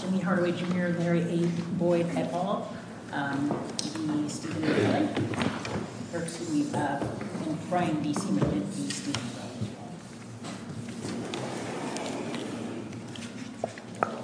Jimmy Hardaway, Jr., Larry A. Boyd, et al. And Brian B. C. McGinty, State Defendant, as well.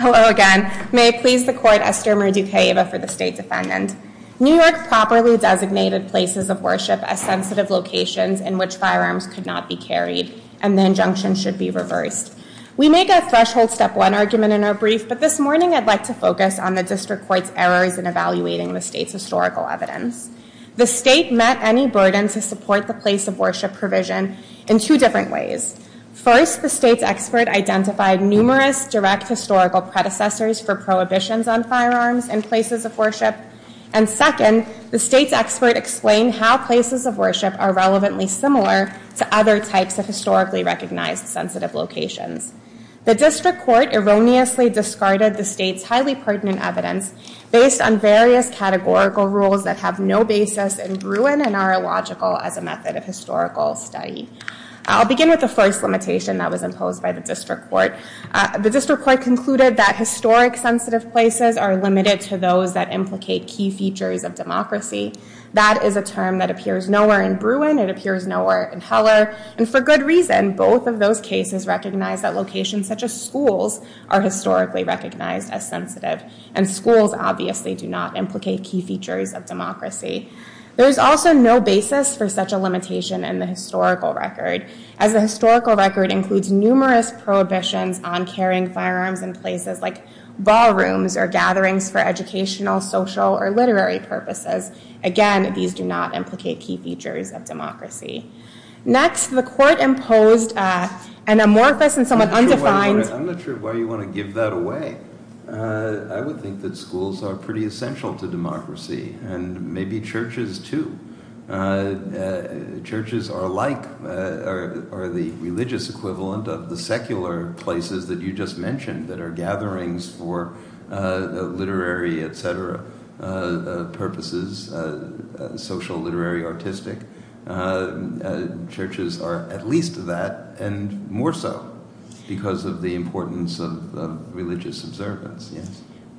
Hello again. May it please the Court, Esther Murdujeva for the State Defendant. New York properly designated places of worship as sensitive locations in which firearms could not be carried, and the injunction should be reversed. We make a threshold step one argument in our brief, but this morning I'd like to focus on the District Court's errors in evaluating the State's historical evidence. The State met any burden to support the place of worship provision in two different ways. First, the State's expert identified numerous direct historical predecessors for prohibitions on firearms in places of worship. And second, the State's expert explained how places of worship are relevantly similar to other types of historically recognized sensitive locations. The District Court erroneously discarded the State's highly pertinent evidence based on various categorical rules that have no basis in ruin and are illogical as a method of historical study. I'll begin with the first limitation that was imposed by the District Court. The District Court concluded that historic sensitive places are limited to those that implicate key features of democracy. That is a term that appears nowhere in Bruin. It appears nowhere in Heller. And for good reason. Both of those cases recognize that locations such as schools are historically recognized as sensitive, and schools obviously do not implicate key features of democracy. There is also no basis for such a limitation in the historical record, as the historical record includes numerous prohibitions on carrying firearms in places like ballrooms or gatherings for educational, social, or literary purposes. Again, these do not implicate key features of democracy. Next, the Court imposed an amorphous and somewhat undefined- I'm not sure why you want to give that away. I would think that schools are pretty essential to democracy, and maybe churches too. Churches are the religious equivalent of the secular places that you just mentioned, that are gatherings for literary, et cetera, purposes, social, literary, artistic. Churches are at least that, and more so, because of the importance of religious observance.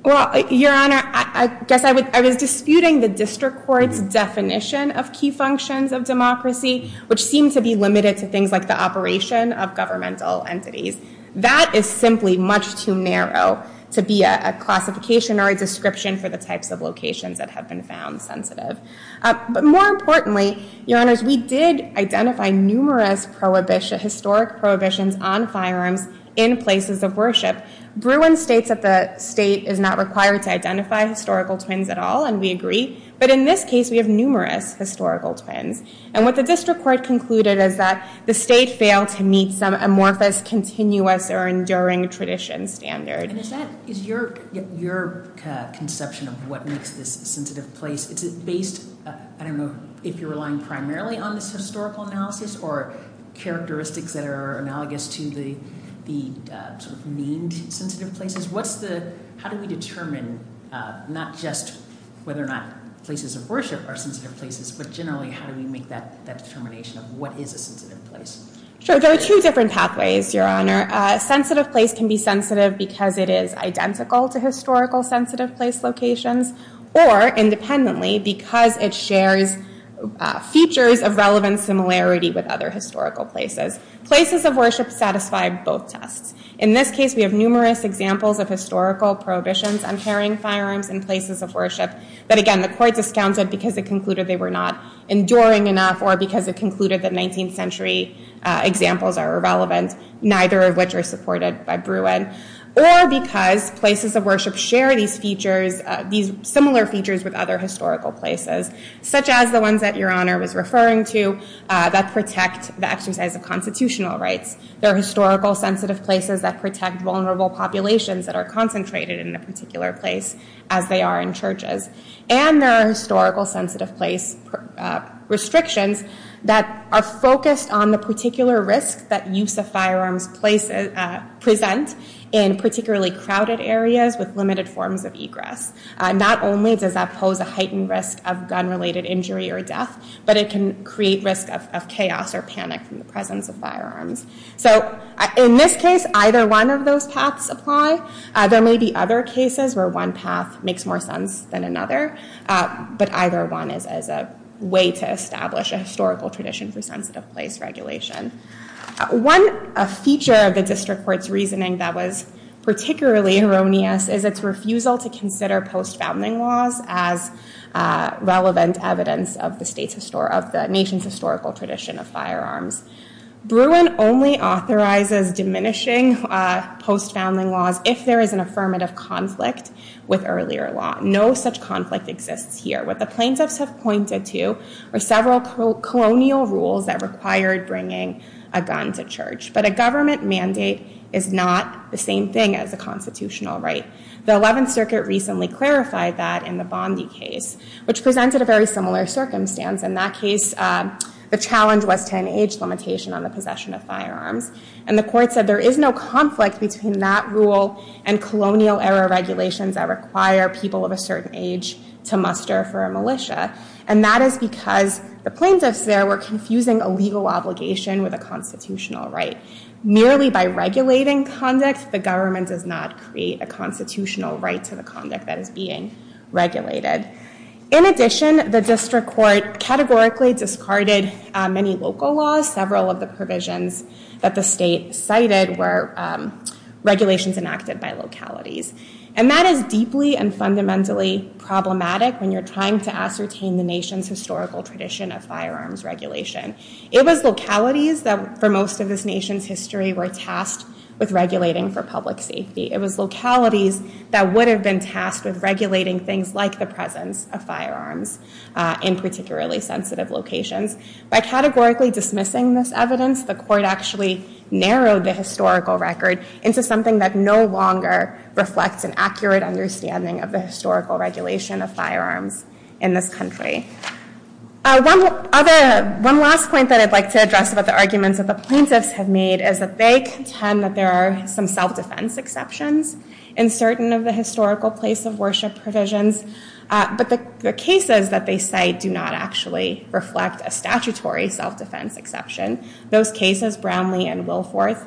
Well, Your Honor, I guess I was disputing the District Court's definition of key functions of democracy, which seem to be limited to things like the operation of governmental entities. That is simply much too narrow to be a classification or a description for the types of locations that have been found sensitive. But more importantly, Your Honors, we did identify numerous historic prohibitions on firearms in places of worship. Bruin states that the state is not required to identify historical twins at all, and we agree. But in this case, we have numerous historical twins. And what the District Court concluded is that the state failed to meet some amorphous, continuous, or enduring tradition standard. And is that your conception of what makes this a sensitive place? Is it based, I don't know if you're relying primarily on this historical analysis, or characteristics that are analogous to the sort of memed sensitive places? How do we determine not just whether or not places of worship are sensitive places, but generally how do we make that determination of what is a sensitive place? Sure, there are two different pathways, Your Honor. A sensitive place can be sensitive because it is identical to historical sensitive place locations, or independently, because it shares features of relevant similarity with other historical places. Places of worship satisfy both tests. In this case, we have numerous examples of historical prohibitions on carrying firearms in places of worship. But again, the court discounted because it concluded they were not enduring enough, or because it concluded that 19th century examples are irrelevant, neither of which are supported by Bruin. Or because places of worship share these features, these similar features with other historical places, such as the ones that Your Honor was referring to that protect the exercise of constitutional rights. There are historical sensitive places that protect vulnerable populations that are concentrated in a particular place, as they are in churches. And there are historical sensitive place restrictions that are focused on the particular risk that use of firearms present in particularly crowded areas with limited forms of egress. Not only does that pose a heightened risk of gun-related injury or death, but it can create risk of chaos or panic from the presence of firearms. So in this case, either one of those paths apply. There may be other cases where one path makes more sense than another. But either one is a way to establish a historical tradition for sensitive place regulation. One feature of the district court's reasoning that was particularly erroneous is its refusal to consider post-founding laws as relevant evidence of the nation's historical tradition of firearms. Bruin only authorizes diminishing post-founding laws if there is an affirmative conflict with earlier law. No such conflict exists here. What the plaintiffs have pointed to are several colonial rules that required bringing a gun to church. But a government mandate is not the same thing as a constitutional right. The 11th Circuit recently clarified that in the Bondi case, which presented a very similar circumstance. In that case, the challenge was to an age limitation on the possession of firearms. And the court said there is no conflict between that rule and colonial-era regulations that require people of a certain age to muster for a militia. And that is because the plaintiffs there were confusing a legal obligation with a constitutional right. Merely by regulating conduct, the government does not create a constitutional right to the conduct that is being regulated. In addition, the district court categorically discarded many local laws. Several of the provisions that the state cited were regulations enacted by localities. And that is deeply and fundamentally problematic when you're trying to ascertain the nation's historical tradition of firearms regulation. It was localities that, for most of this nation's history, were tasked with regulating for public safety. It was localities that would have been tasked with regulating things like the presence of firearms in particularly sensitive locations. By categorically dismissing this evidence, the court actually narrowed the historical record into something that no longer reflects an accurate understanding of the historical regulation of firearms in this country. One last point that I'd like to address about the arguments that the plaintiffs have made is that they contend that there are some self-defense exceptions in certain of the historical place of worship provisions. But the cases that they cite do not actually reflect a statutory self-defense exception. Those cases, Brownlee and Wilforth,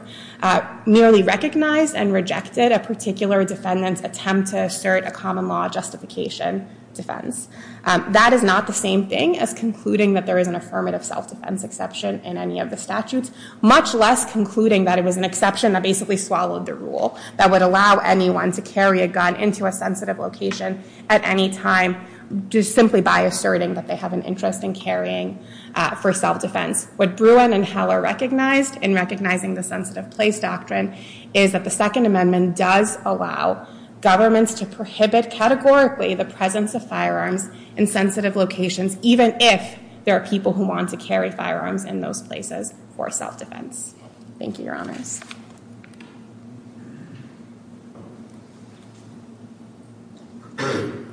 nearly recognized and rejected a particular defendant's attempt to assert a common law justification defense. That is not the same thing as concluding that there is an affirmative self-defense exception in any of the statutes, much less concluding that it was an exception that basically swallowed the rule that would allow anyone to carry a gun into a sensitive location at any time simply by asserting that they have an interest in carrying for self-defense. What Bruin and Heller recognized in recognizing the sensitive place doctrine is that the Second Amendment does allow governments to prohibit categorically the presence of firearms in sensitive locations, even if there are people who want to carry firearms in those places for self-defense. Thank you, Your Honors. Good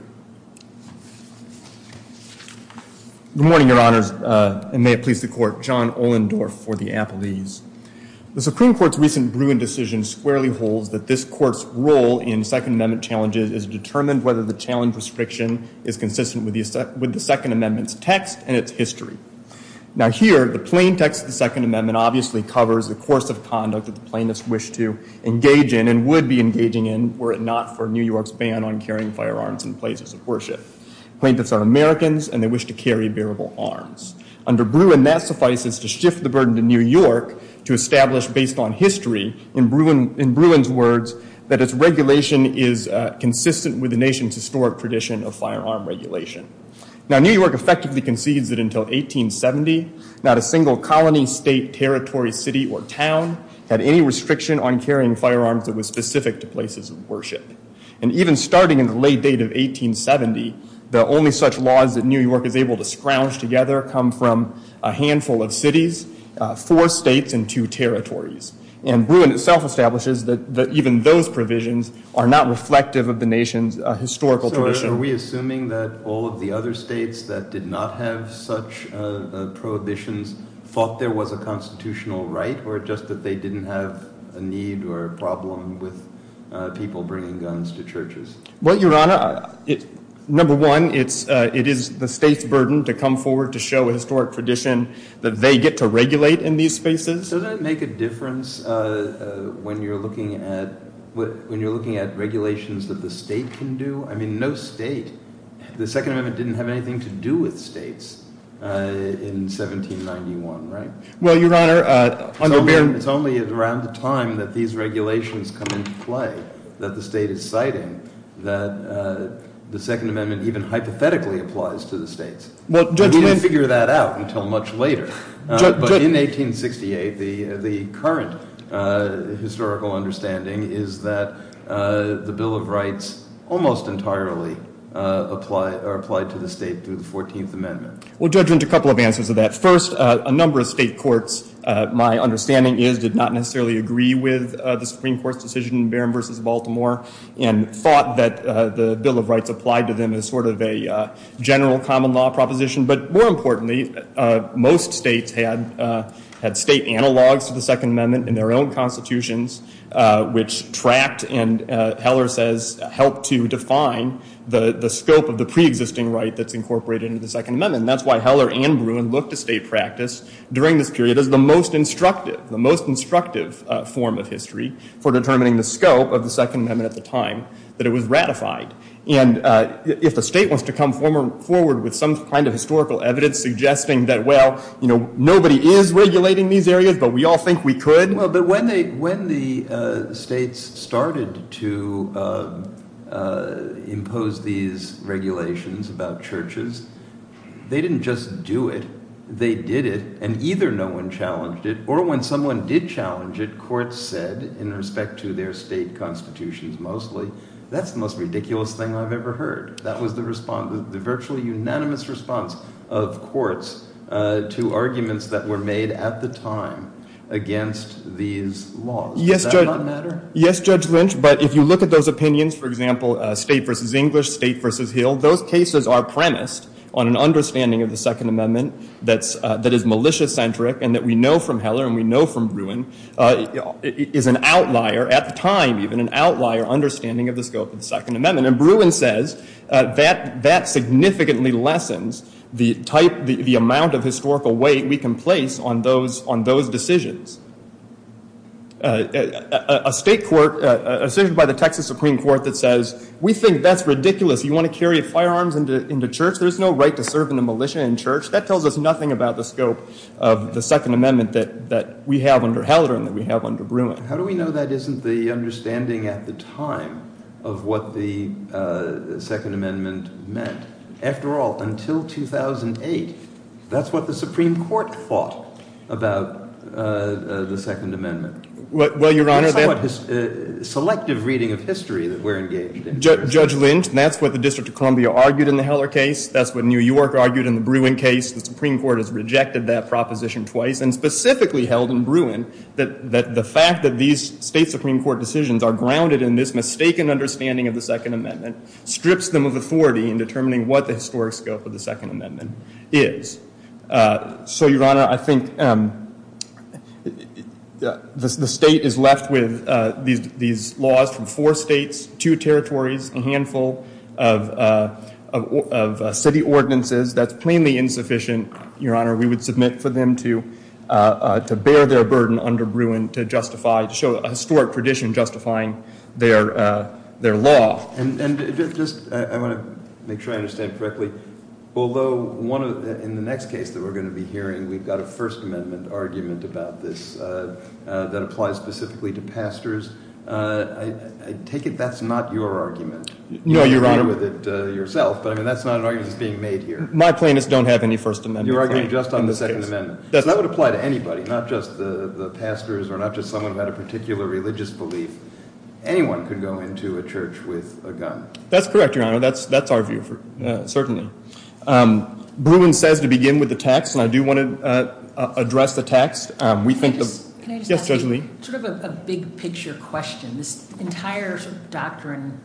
morning, Your Honors, and may it please the Court. John Ohlendorf for the Appellees. The Supreme Court's recent Bruin decision squarely holds that this Court's role in Second Amendment challenges is determined whether the challenge restriction is consistent with the Second Amendment's text and its history. Now here, the plain text of the Second Amendment obviously covers the course of conduct that the plaintiffs wish to engage in and would be engaging in were it not for New York's ban on carrying firearms in places of worship. Plaintiffs are Americans, and they wish to carry bearable arms. Under Bruin, that suffices to shift the burden to New York to establish, based on history, in Bruin's words, that its regulation is consistent with the nation's historic tradition of firearm regulation. Now New York effectively concedes that until 1870, not a single colony, state, territory, city, or town had any restriction on carrying firearms that was specific to places of worship. And even starting in the late date of 1870, the only such laws that New York is able to scrounge together come from a handful of cities, four states, and two territories. And Bruin itself establishes that even those provisions are not reflective of the nation's historical tradition. So are we assuming that all of the other states that did not have such prohibitions thought there was a constitutional right, or just that they didn't have a need or a problem with people bringing guns to churches? Well, Your Honor, number one, it is the state's burden to come forward to show a historic tradition that they get to regulate in these spaces. Does that make a difference when you're looking at regulations that the state can do? I mean, no state. The Second Amendment didn't have anything to do with states in 1791, right? Well, Your Honor, under Bruin- It's only around the time that these regulations come into play that the state is citing that the Second Amendment even hypothetically applies to the states. Well, Judge- We didn't figure that out until much later. But in 1868, the current historical understanding is that the Bill of Rights almost entirely are applied to the state through the 14th Amendment. Well, Judge, there's a couple of answers to that. First, a number of state courts, my understanding is, did not necessarily agree with the Supreme Court's decision, Barron versus Baltimore, and thought that the Bill of Rights applied to them as sort of a general common law proposition. But more importantly, most states had state analogs to the Second Amendment in their own constitutions, which tracked and, Heller says, helped to define the scope of the preexisting right that's incorporated into the Second Amendment. And that's why Heller and Bruin looked to state practice during this period as the most instructive, the most instructive form of history for determining the scope of the Second Amendment at the time that it was ratified. And if the state wants to come forward with some kind of historical evidence suggesting that, well, nobody is regulating these areas, but we all think we could. Well, but when the states started to impose these regulations about churches, they didn't just do it. They did it. And either no one challenged it, or when someone did challenge it, courts said, in respect to their state constitutions mostly, that's the most ridiculous thing I've ever heard. That was the response, the virtually unanimous response of courts to arguments that were made at the time against these laws. Does that not matter? Yes, Judge Lynch. But if you look at those opinions, for example, state versus English, state versus Hill, those cases are premised on an understanding of the Second Amendment that is militia-centric and that we know from Heller and we know from Bruin is an outlier, at the time even, an outlier understanding of the scope of the Second Amendment. And Bruin says that that significantly lessens the amount of historical weight we can place on those decisions. A state court, a decision by the Texas Supreme Court that says, we think that's ridiculous. You want to carry firearms into church? There's no right to serve in a militia in church. That tells us nothing about the scope of the Second Amendment that we have under Heller and that we have under Bruin. How do we know that isn't the understanding at the time of what the Second Amendment meant? After all, until 2008, that's what the Supreme Court thought about the Second Amendment. Well, Your Honor, that's what selective reading of history that we're engaged in. Judge Lynch, that's what the District of Columbia argued in the Heller case. That's what New York argued in the Bruin case. The Supreme Court has rejected that proposition twice and specifically held in Bruin that the fact that these state take an understanding of the Second Amendment strips them of authority in determining what the historic scope of the Second Amendment is. So, Your Honor, I think the state is left with these laws from four states, two territories, a handful of city ordinances. That's plainly insufficient, Your Honor. We would submit for them to bear their burden under Bruin to justify, to show a historic tradition justifying their law. And just, I want to make sure I understand correctly, although in the next case that we're going to be hearing, we've got a First Amendment argument about this that applies specifically to pastors. I take it that's not your argument. No, Your Honor. You're familiar with it yourself, but that's not an argument that's being made here. My plaintiffs don't have any First Amendment claims. You're arguing just on the Second Amendment. That's right. So that would apply to anybody, not just the pastors or not just someone who had a particular religious belief. Anyone could go into a church with a gun. That's correct, Your Honor. That's our view, certainly. Bruin says to begin with the text, and I do want to address the text. Can I just ask you sort of a big picture question. This entire doctrine,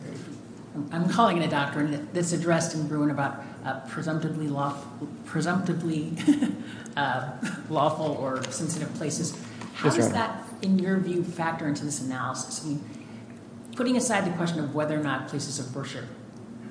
I'm calling it a doctrine, that's addressed in Bruin about presumptively lawful or sensitive places. How does that, in your view, factor into this analysis? Putting aside the question of whether or not places of worship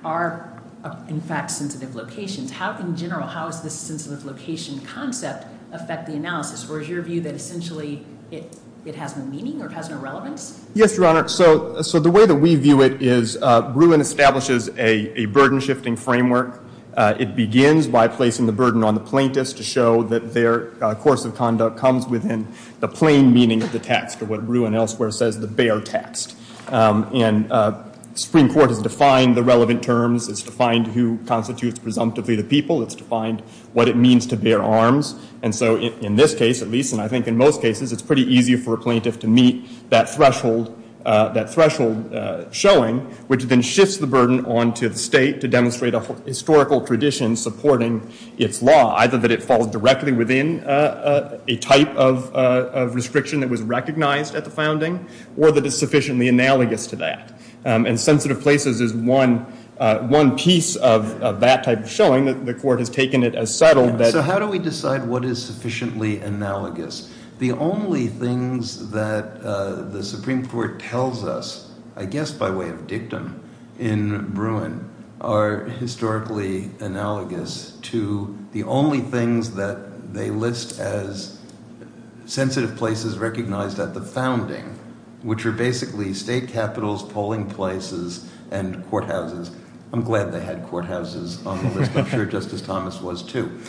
are, in fact, sensitive locations, in general, how does this sensitive location concept affect the analysis? Or is your view that essentially it has no meaning or it has no relevance? Yes, Your Honor. So the way that we view it is Bruin establishes a burden-shifting framework. It begins by placing the burden on the plaintiffs to show that their course of conduct comes within the plain meaning of the text, or what Bruin elsewhere says, the bare text. And the Supreme Court has defined the relevant terms. It's defined who constitutes presumptively the people. It's defined what it means to bear arms. And so in this case, at least, and I think in most cases, it's pretty easy for a plaintiff to meet that threshold showing, which then shifts the burden on to the state to demonstrate a historical tradition supporting its law, either that it falls directly within a type of restriction that was recognized at the founding or that it's sufficiently analogous to that. And sensitive places is one piece of that type of showing that the court has taken it as settled. So how do we decide what is sufficiently analogous? The only things that the Supreme Court tells us, I guess by way of dictum, in Bruin are historically analogous to the only things that they list as sensitive places recognized at the founding, which are basically state capitals, polling places, and courthouses. I'm glad they had courthouses on the list. I'm sure Justice Thomas was too.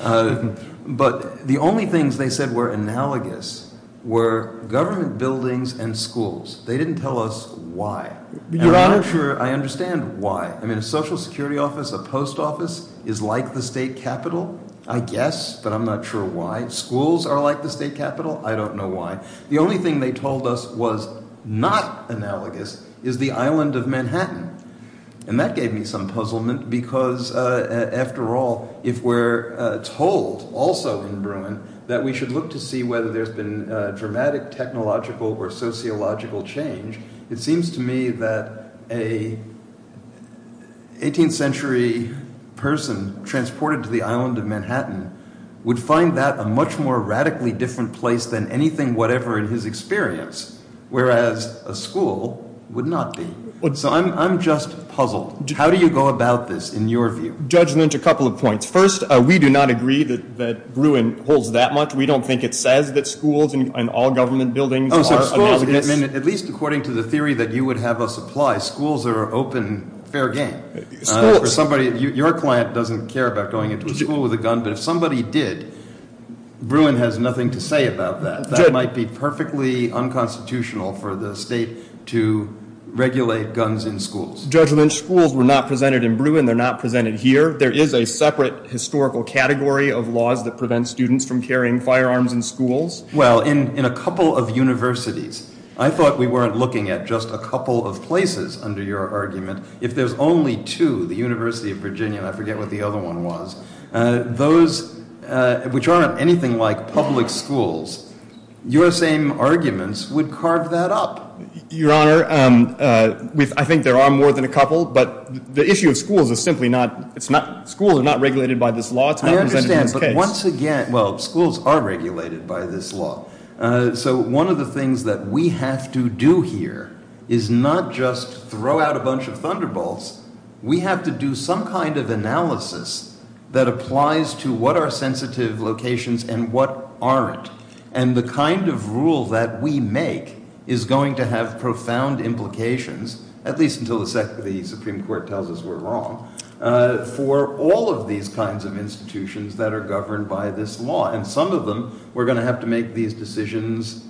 But the only things they said were analogous were government buildings and schools. They didn't tell us why. I'm not sure I understand why. I mean, a social security office, a post office, is like the state capital? I guess, but I'm not sure why. Schools are like the state capital? I don't know why. The only thing they told us was not analogous is the island of Manhattan. And that gave me some puzzlement because, after all, if we're told also in Bruin that we should look to see whether there's been dramatic technological or sociological change, it seems to me that an 18th century person transported to the island of Manhattan would find that a much more radically different place than anything whatever in his experience, whereas a school would not be. So I'm just puzzled. How do you go about this, in your view? Judgment, a couple of points. First, we do not agree that Bruin holds that much. We don't think it says that schools and all government buildings are analogous. I mean, at least according to the theory that you would have us apply, schools are open, fair game. Your client doesn't care about going into a school with a gun, but if somebody did, Bruin has nothing to say about that. That might be perfectly unconstitutional for the state to regulate guns in schools. Judgment, schools were not presented in Bruin. They're not presented here. There is a separate historical category of laws that prevent students from carrying firearms in schools. Well, in a couple of universities, I thought we weren't looking at just a couple of places under your argument. If there's only two, the University of Virginia, and I forget what the other one was, those which aren't anything like public schools, your same arguments would carve that up. Your Honor, I think there are more than a couple, but the issue of schools is simply not, schools are not regulated by this law. It's not presented in this case. Once again, well, schools are regulated by this law. So one of the things that we have to do here is not just throw out a bunch of thunderbolts. We have to do some kind of analysis that applies to what are sensitive locations and what aren't. And the kind of rule that we make is going to have profound implications, at least until the Supreme Court tells us we're wrong, for all of these kinds of institutions that are governed by this law. And some of them, we're going to have to make these decisions,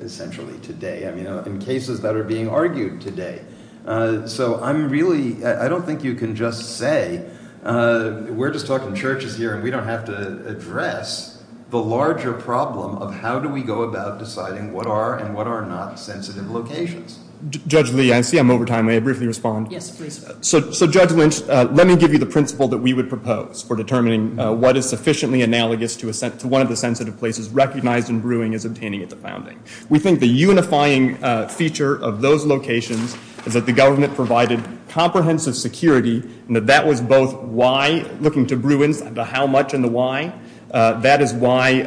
essentially today, in cases that are being argued today. So I'm really, I don't think you can just say, we're just talking churches here, and we don't have to address the larger problem of how do we go about deciding what are and what are not sensitive locations. Judge Lee, I see I'm over time. May I briefly respond? Yes, please. So, Judge Lynch, let me give you the principle that we would propose for determining what is sufficiently analogous to one of the sensitive places recognized in brewing as obtaining its founding. We think the unifying feature of those locations is that the government provided comprehensive security and that that was both why looking to brew and the how much and the why. That is why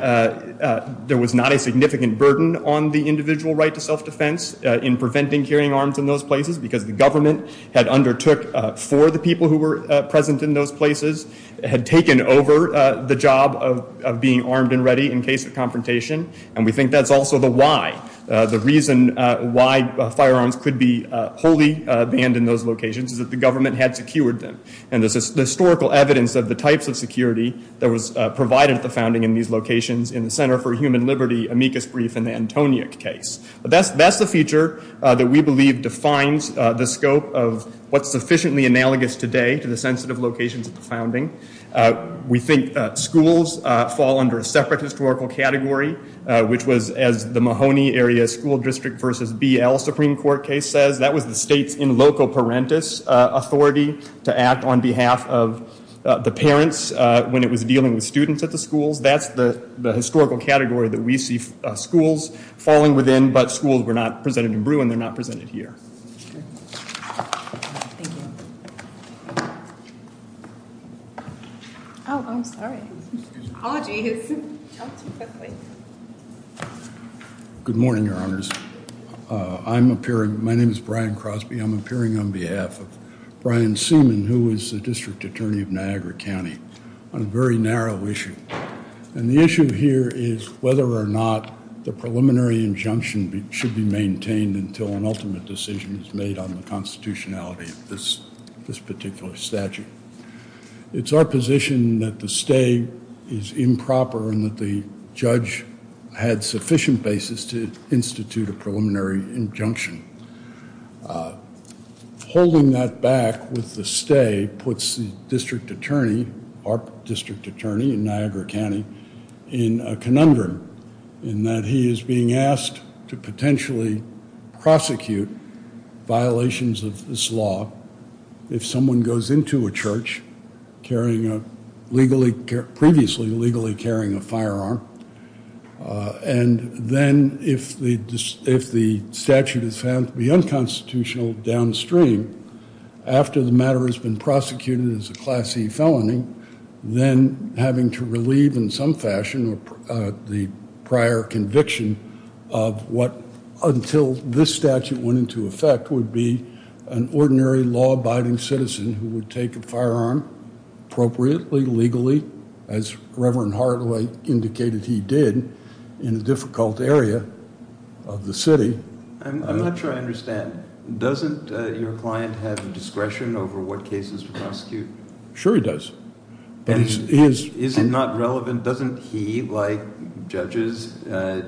there was not a significant burden on the individual right to self-defense in preventing carrying arms in those places because the government had undertook for the people who were present in those places, had taken over the job of being armed and ready in case of confrontation, and we think that's also the why. The reason why firearms could be wholly banned in those locations is that the government had secured them. And there's historical evidence of the types of security that was provided at the founding in these locations in the Center for Human Liberty amicus brief in the Antoniuk case. That's the feature that we believe defines the scope of what's sufficiently analogous today to the sensitive locations at the founding. We think schools fall under a separate historical category, which was, as the Mahoney Area School District versus BL Supreme Court case says, that was the state's in loco parentis authority to act on behalf of the parents when it was dealing with students at the schools. That's the historical category that we see schools falling within, but schools were not presented in brew and they're not presented here. Oh, I'm sorry. Apologies. Good morning, Your Honors. I'm appearing, my name is Brian Crosby. I'm appearing on behalf of Brian Seaman, who is the District Attorney of Niagara County, on a very narrow issue. And the issue here is whether or not the preliminary injunction should be maintained until an ultimate decision is made on the constitutionality of this particular statute. It's our position that the stay is improper and that the judge had sufficient basis to institute a preliminary injunction. Holding that back with the stay puts the District Attorney, our District Attorney in Niagara County, in a conundrum in that he is being asked to potentially prosecute violations of this law if someone goes into a church previously legally carrying a firearm and then if the statute is found to be unconstitutional downstream after the matter has been prosecuted as a Class E felony, then having to relieve in some fashion the prior conviction of what, until this statute went into effect, would be an ordinary law-abiding citizen who would take a firearm appropriately, legally, as Reverend Hardaway indicated he did in a difficult area of the city. I'm not sure I understand. Doesn't your client have discretion over what cases to prosecute? Sure he does. Is it not relevant? Doesn't he, like judges,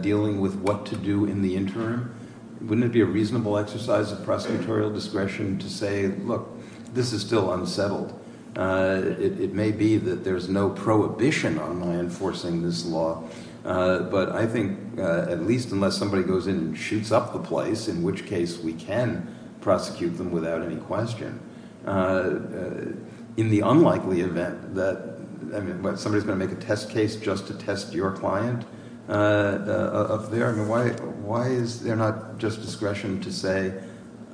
dealing with what to do in the interim, wouldn't it be a reasonable exercise of prosecutorial discretion to say, look, this is still unsettled? It may be that there's no prohibition on my enforcing this law, but I think at least unless somebody goes in and shoots up the place, in which case we can prosecute them without any question. In the unlikely event that, somebody's going to make a test case just to test your client up there, why is there not just discretion to say,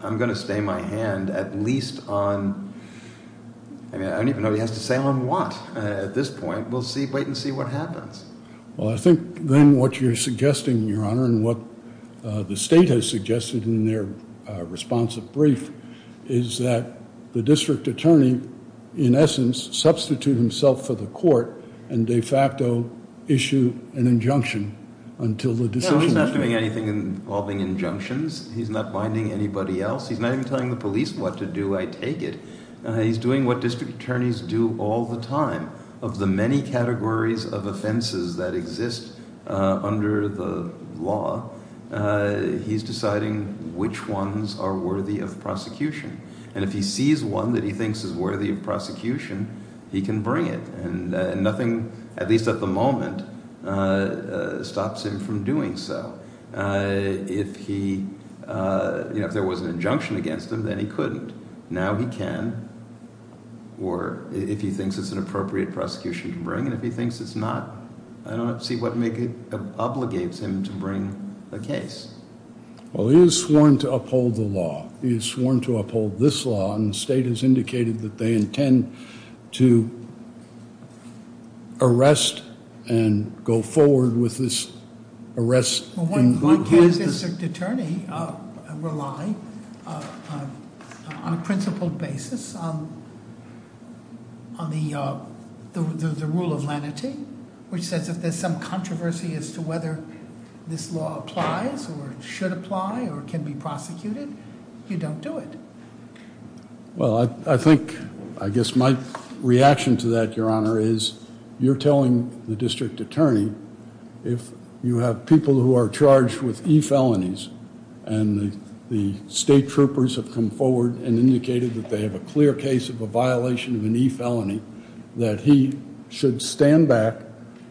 I'm going to stay my hand at least on, I don't even know what he has to say on what at this point. We'll wait and see what happens. Well, I think then what you're suggesting, Your Honor, and what the state has suggested in their responsive brief is that the district attorney, in essence, substitute himself for the court and de facto issue an injunction until the decision is made. No, he's not doing anything involving injunctions. He's not binding anybody else. He's not even telling the police what to do, I take it. He's doing what district attorneys do all the time. Of the many categories of offenses that exist under the law, he's deciding which ones are worthy of prosecution. And if he sees one that he thinks is worthy of prosecution, he can bring it. And nothing, at least at the moment, stops him from doing so. If there was an injunction against him, then he couldn't. Now he can, or if he thinks it's an appropriate prosecution to bring, and if he thinks it's not, I don't see what obligates him to bring a case. Well, he is sworn to uphold the law. He is sworn to uphold this law, and the state has indicated that they intend to arrest and go forward with this arrest. Well, why does a district attorney rely on a principled basis on the rule of lenity, which says if there's some controversy as to whether this law applies or should apply or can be prosecuted, you don't do it? Well, I think, I guess my reaction to that, Your Honor, is you're telling the district attorney if you have people who are charged with e-felonies, and the state troopers have come forward and indicated that they have a clear case of a violation of an e-felony, that he should stand back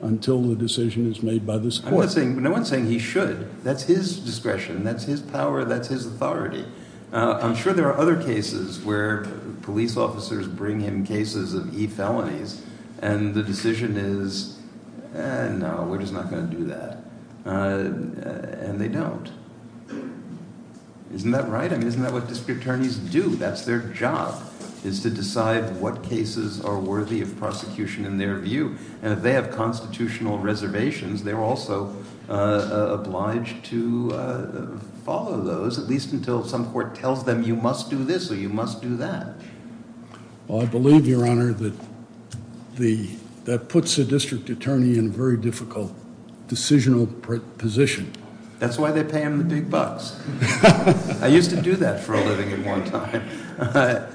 until the decision is made by this court. No one's saying he should. That's his discretion. That's his power. That's his authority. I'm sure there are other cases where police officers bring him cases of e-felonies, and the decision is, eh, no, we're just not going to do that. And they don't. Isn't that right? I mean, isn't that what district attorneys do? That's their job, is to decide what cases are worthy of prosecution in their view. And if they have constitutional reservations, they're also obliged to follow those, at least until some court tells them you must do this or you must do that. Well, I believe, Your Honor, that that puts a district attorney in a very difficult decisional position. That's why they pay him the big bucks. I used to do that for a living at one time.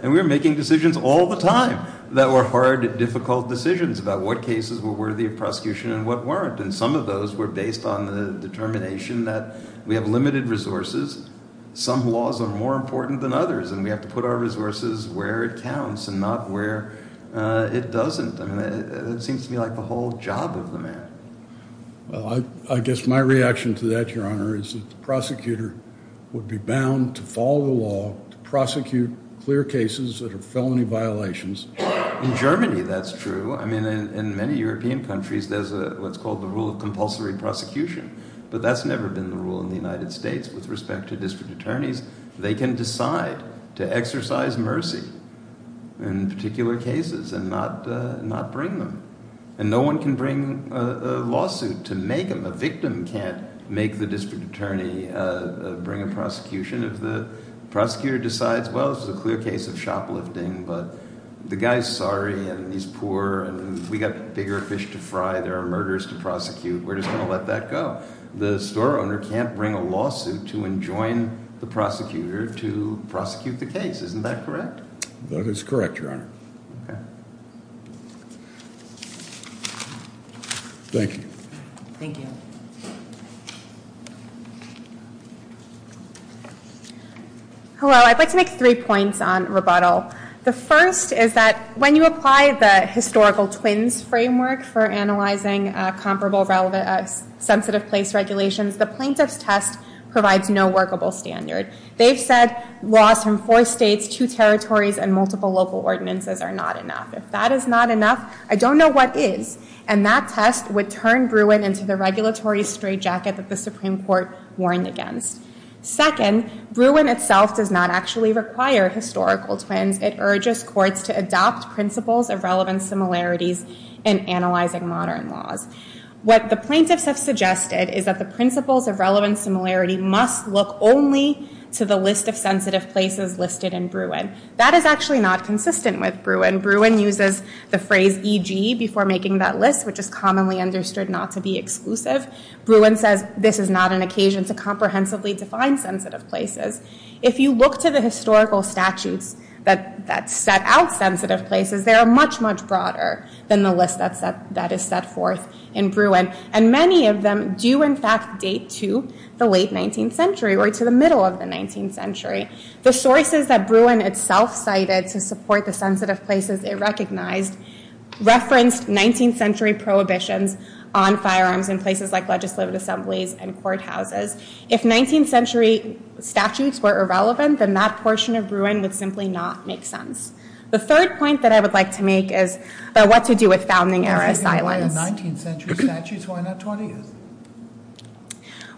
And we were making decisions all the time that were hard, difficult decisions about what cases were worthy of prosecution and what weren't. And some of those were based on the determination that we have limited resources, some laws are more important than others, and we have to put our resources where it counts and not where it doesn't. I mean, it seems to me like the whole job of the man. Well, I guess my reaction to that, Your Honor, is that the prosecutor would be bound to follow the law to prosecute clear cases that are felony violations. In Germany that's true. I mean, in many European countries there's what's called the rule of compulsory prosecution. But that's never been the rule in the United States with respect to district attorneys. They can decide to exercise mercy in particular cases and not bring them. And no one can bring a lawsuit to make them. A victim can't make the district attorney bring a prosecution if the prosecutor decides, well, this is a clear case of shoplifting, but the guy's sorry and he's poor and we've got bigger fish to fry, there are murders to prosecute. We're just going to let that go. The store owner can't bring a lawsuit to enjoin the prosecutor to prosecute the case. Isn't that correct? That is correct, Your Honor. Okay. Thank you. Thank you. Hello. I'd like to make three points on rebuttal. The first is that when you apply the historical twins framework for analyzing comparable sensitive place regulations, the plaintiff's test provides no workable standard. They've said laws from four states, two territories, and multiple local ordinances are not enough. If that is not enough, I don't know what is. And that test would turn Bruin into the regulatory straitjacket that the Supreme Court warned against. Second, Bruin itself does not actually require historical twins. It urges courts to adopt principles of relevant similarities in analyzing modern laws. What the plaintiffs have suggested is that the principles of relevant similarity must look only to the list of sensitive places listed in Bruin. That is actually not consistent with Bruin. Bruin uses the phrase E.G. before making that list, which is commonly understood not to be exclusive. Bruin says this is not an occasion to comprehensively define sensitive places. If you look to the historical statutes that set out sensitive places, they are much, much broader than the list that is set forth in Bruin. And many of them do, in fact, date to the late 19th century or to the middle of the 19th century. The sources that Bruin itself cited to support the sensitive places it recognized referenced 19th century prohibitions on firearms in places like legislative assemblies and courthouses. If 19th century statutes were irrelevant, then that portion of Bruin would simply not make sense. The third point that I would like to make is about what to do with founding-era asylums.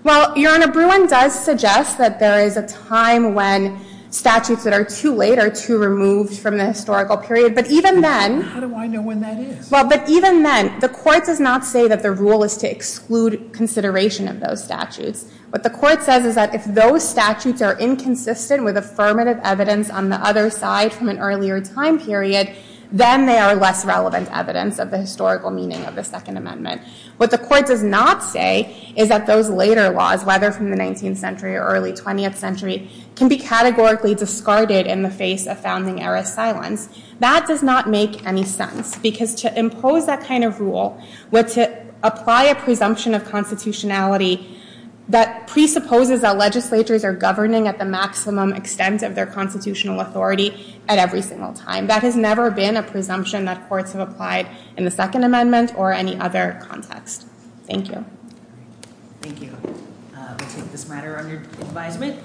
Well, Your Honor, Bruin does suggest that there is a time when statutes that are too late are too removed from the historical period. But even then... How do I know when that is? Well, but even then, the Court does not say that the rule is to exclude consideration of those statutes. What the Court says is that if those statutes are inconsistent with affirmative evidence on the other side from an earlier time period, then they are less relevant evidence of the historical meaning of the Second Amendment. What the Court does not say is that those later laws, whether from the 19th century or early 20th century, can be categorically discarded in the face of founding-era asylums. That does not make any sense. Because to impose that kind of rule, or to apply a presumption of constitutionality that presupposes that legislatures are governing at the maximum extent of their constitutional authority at every single time. That has never been a presumption that courts have applied in the Second Amendment or any other context. Thank you. Thank you. We'll take this matter under advisement.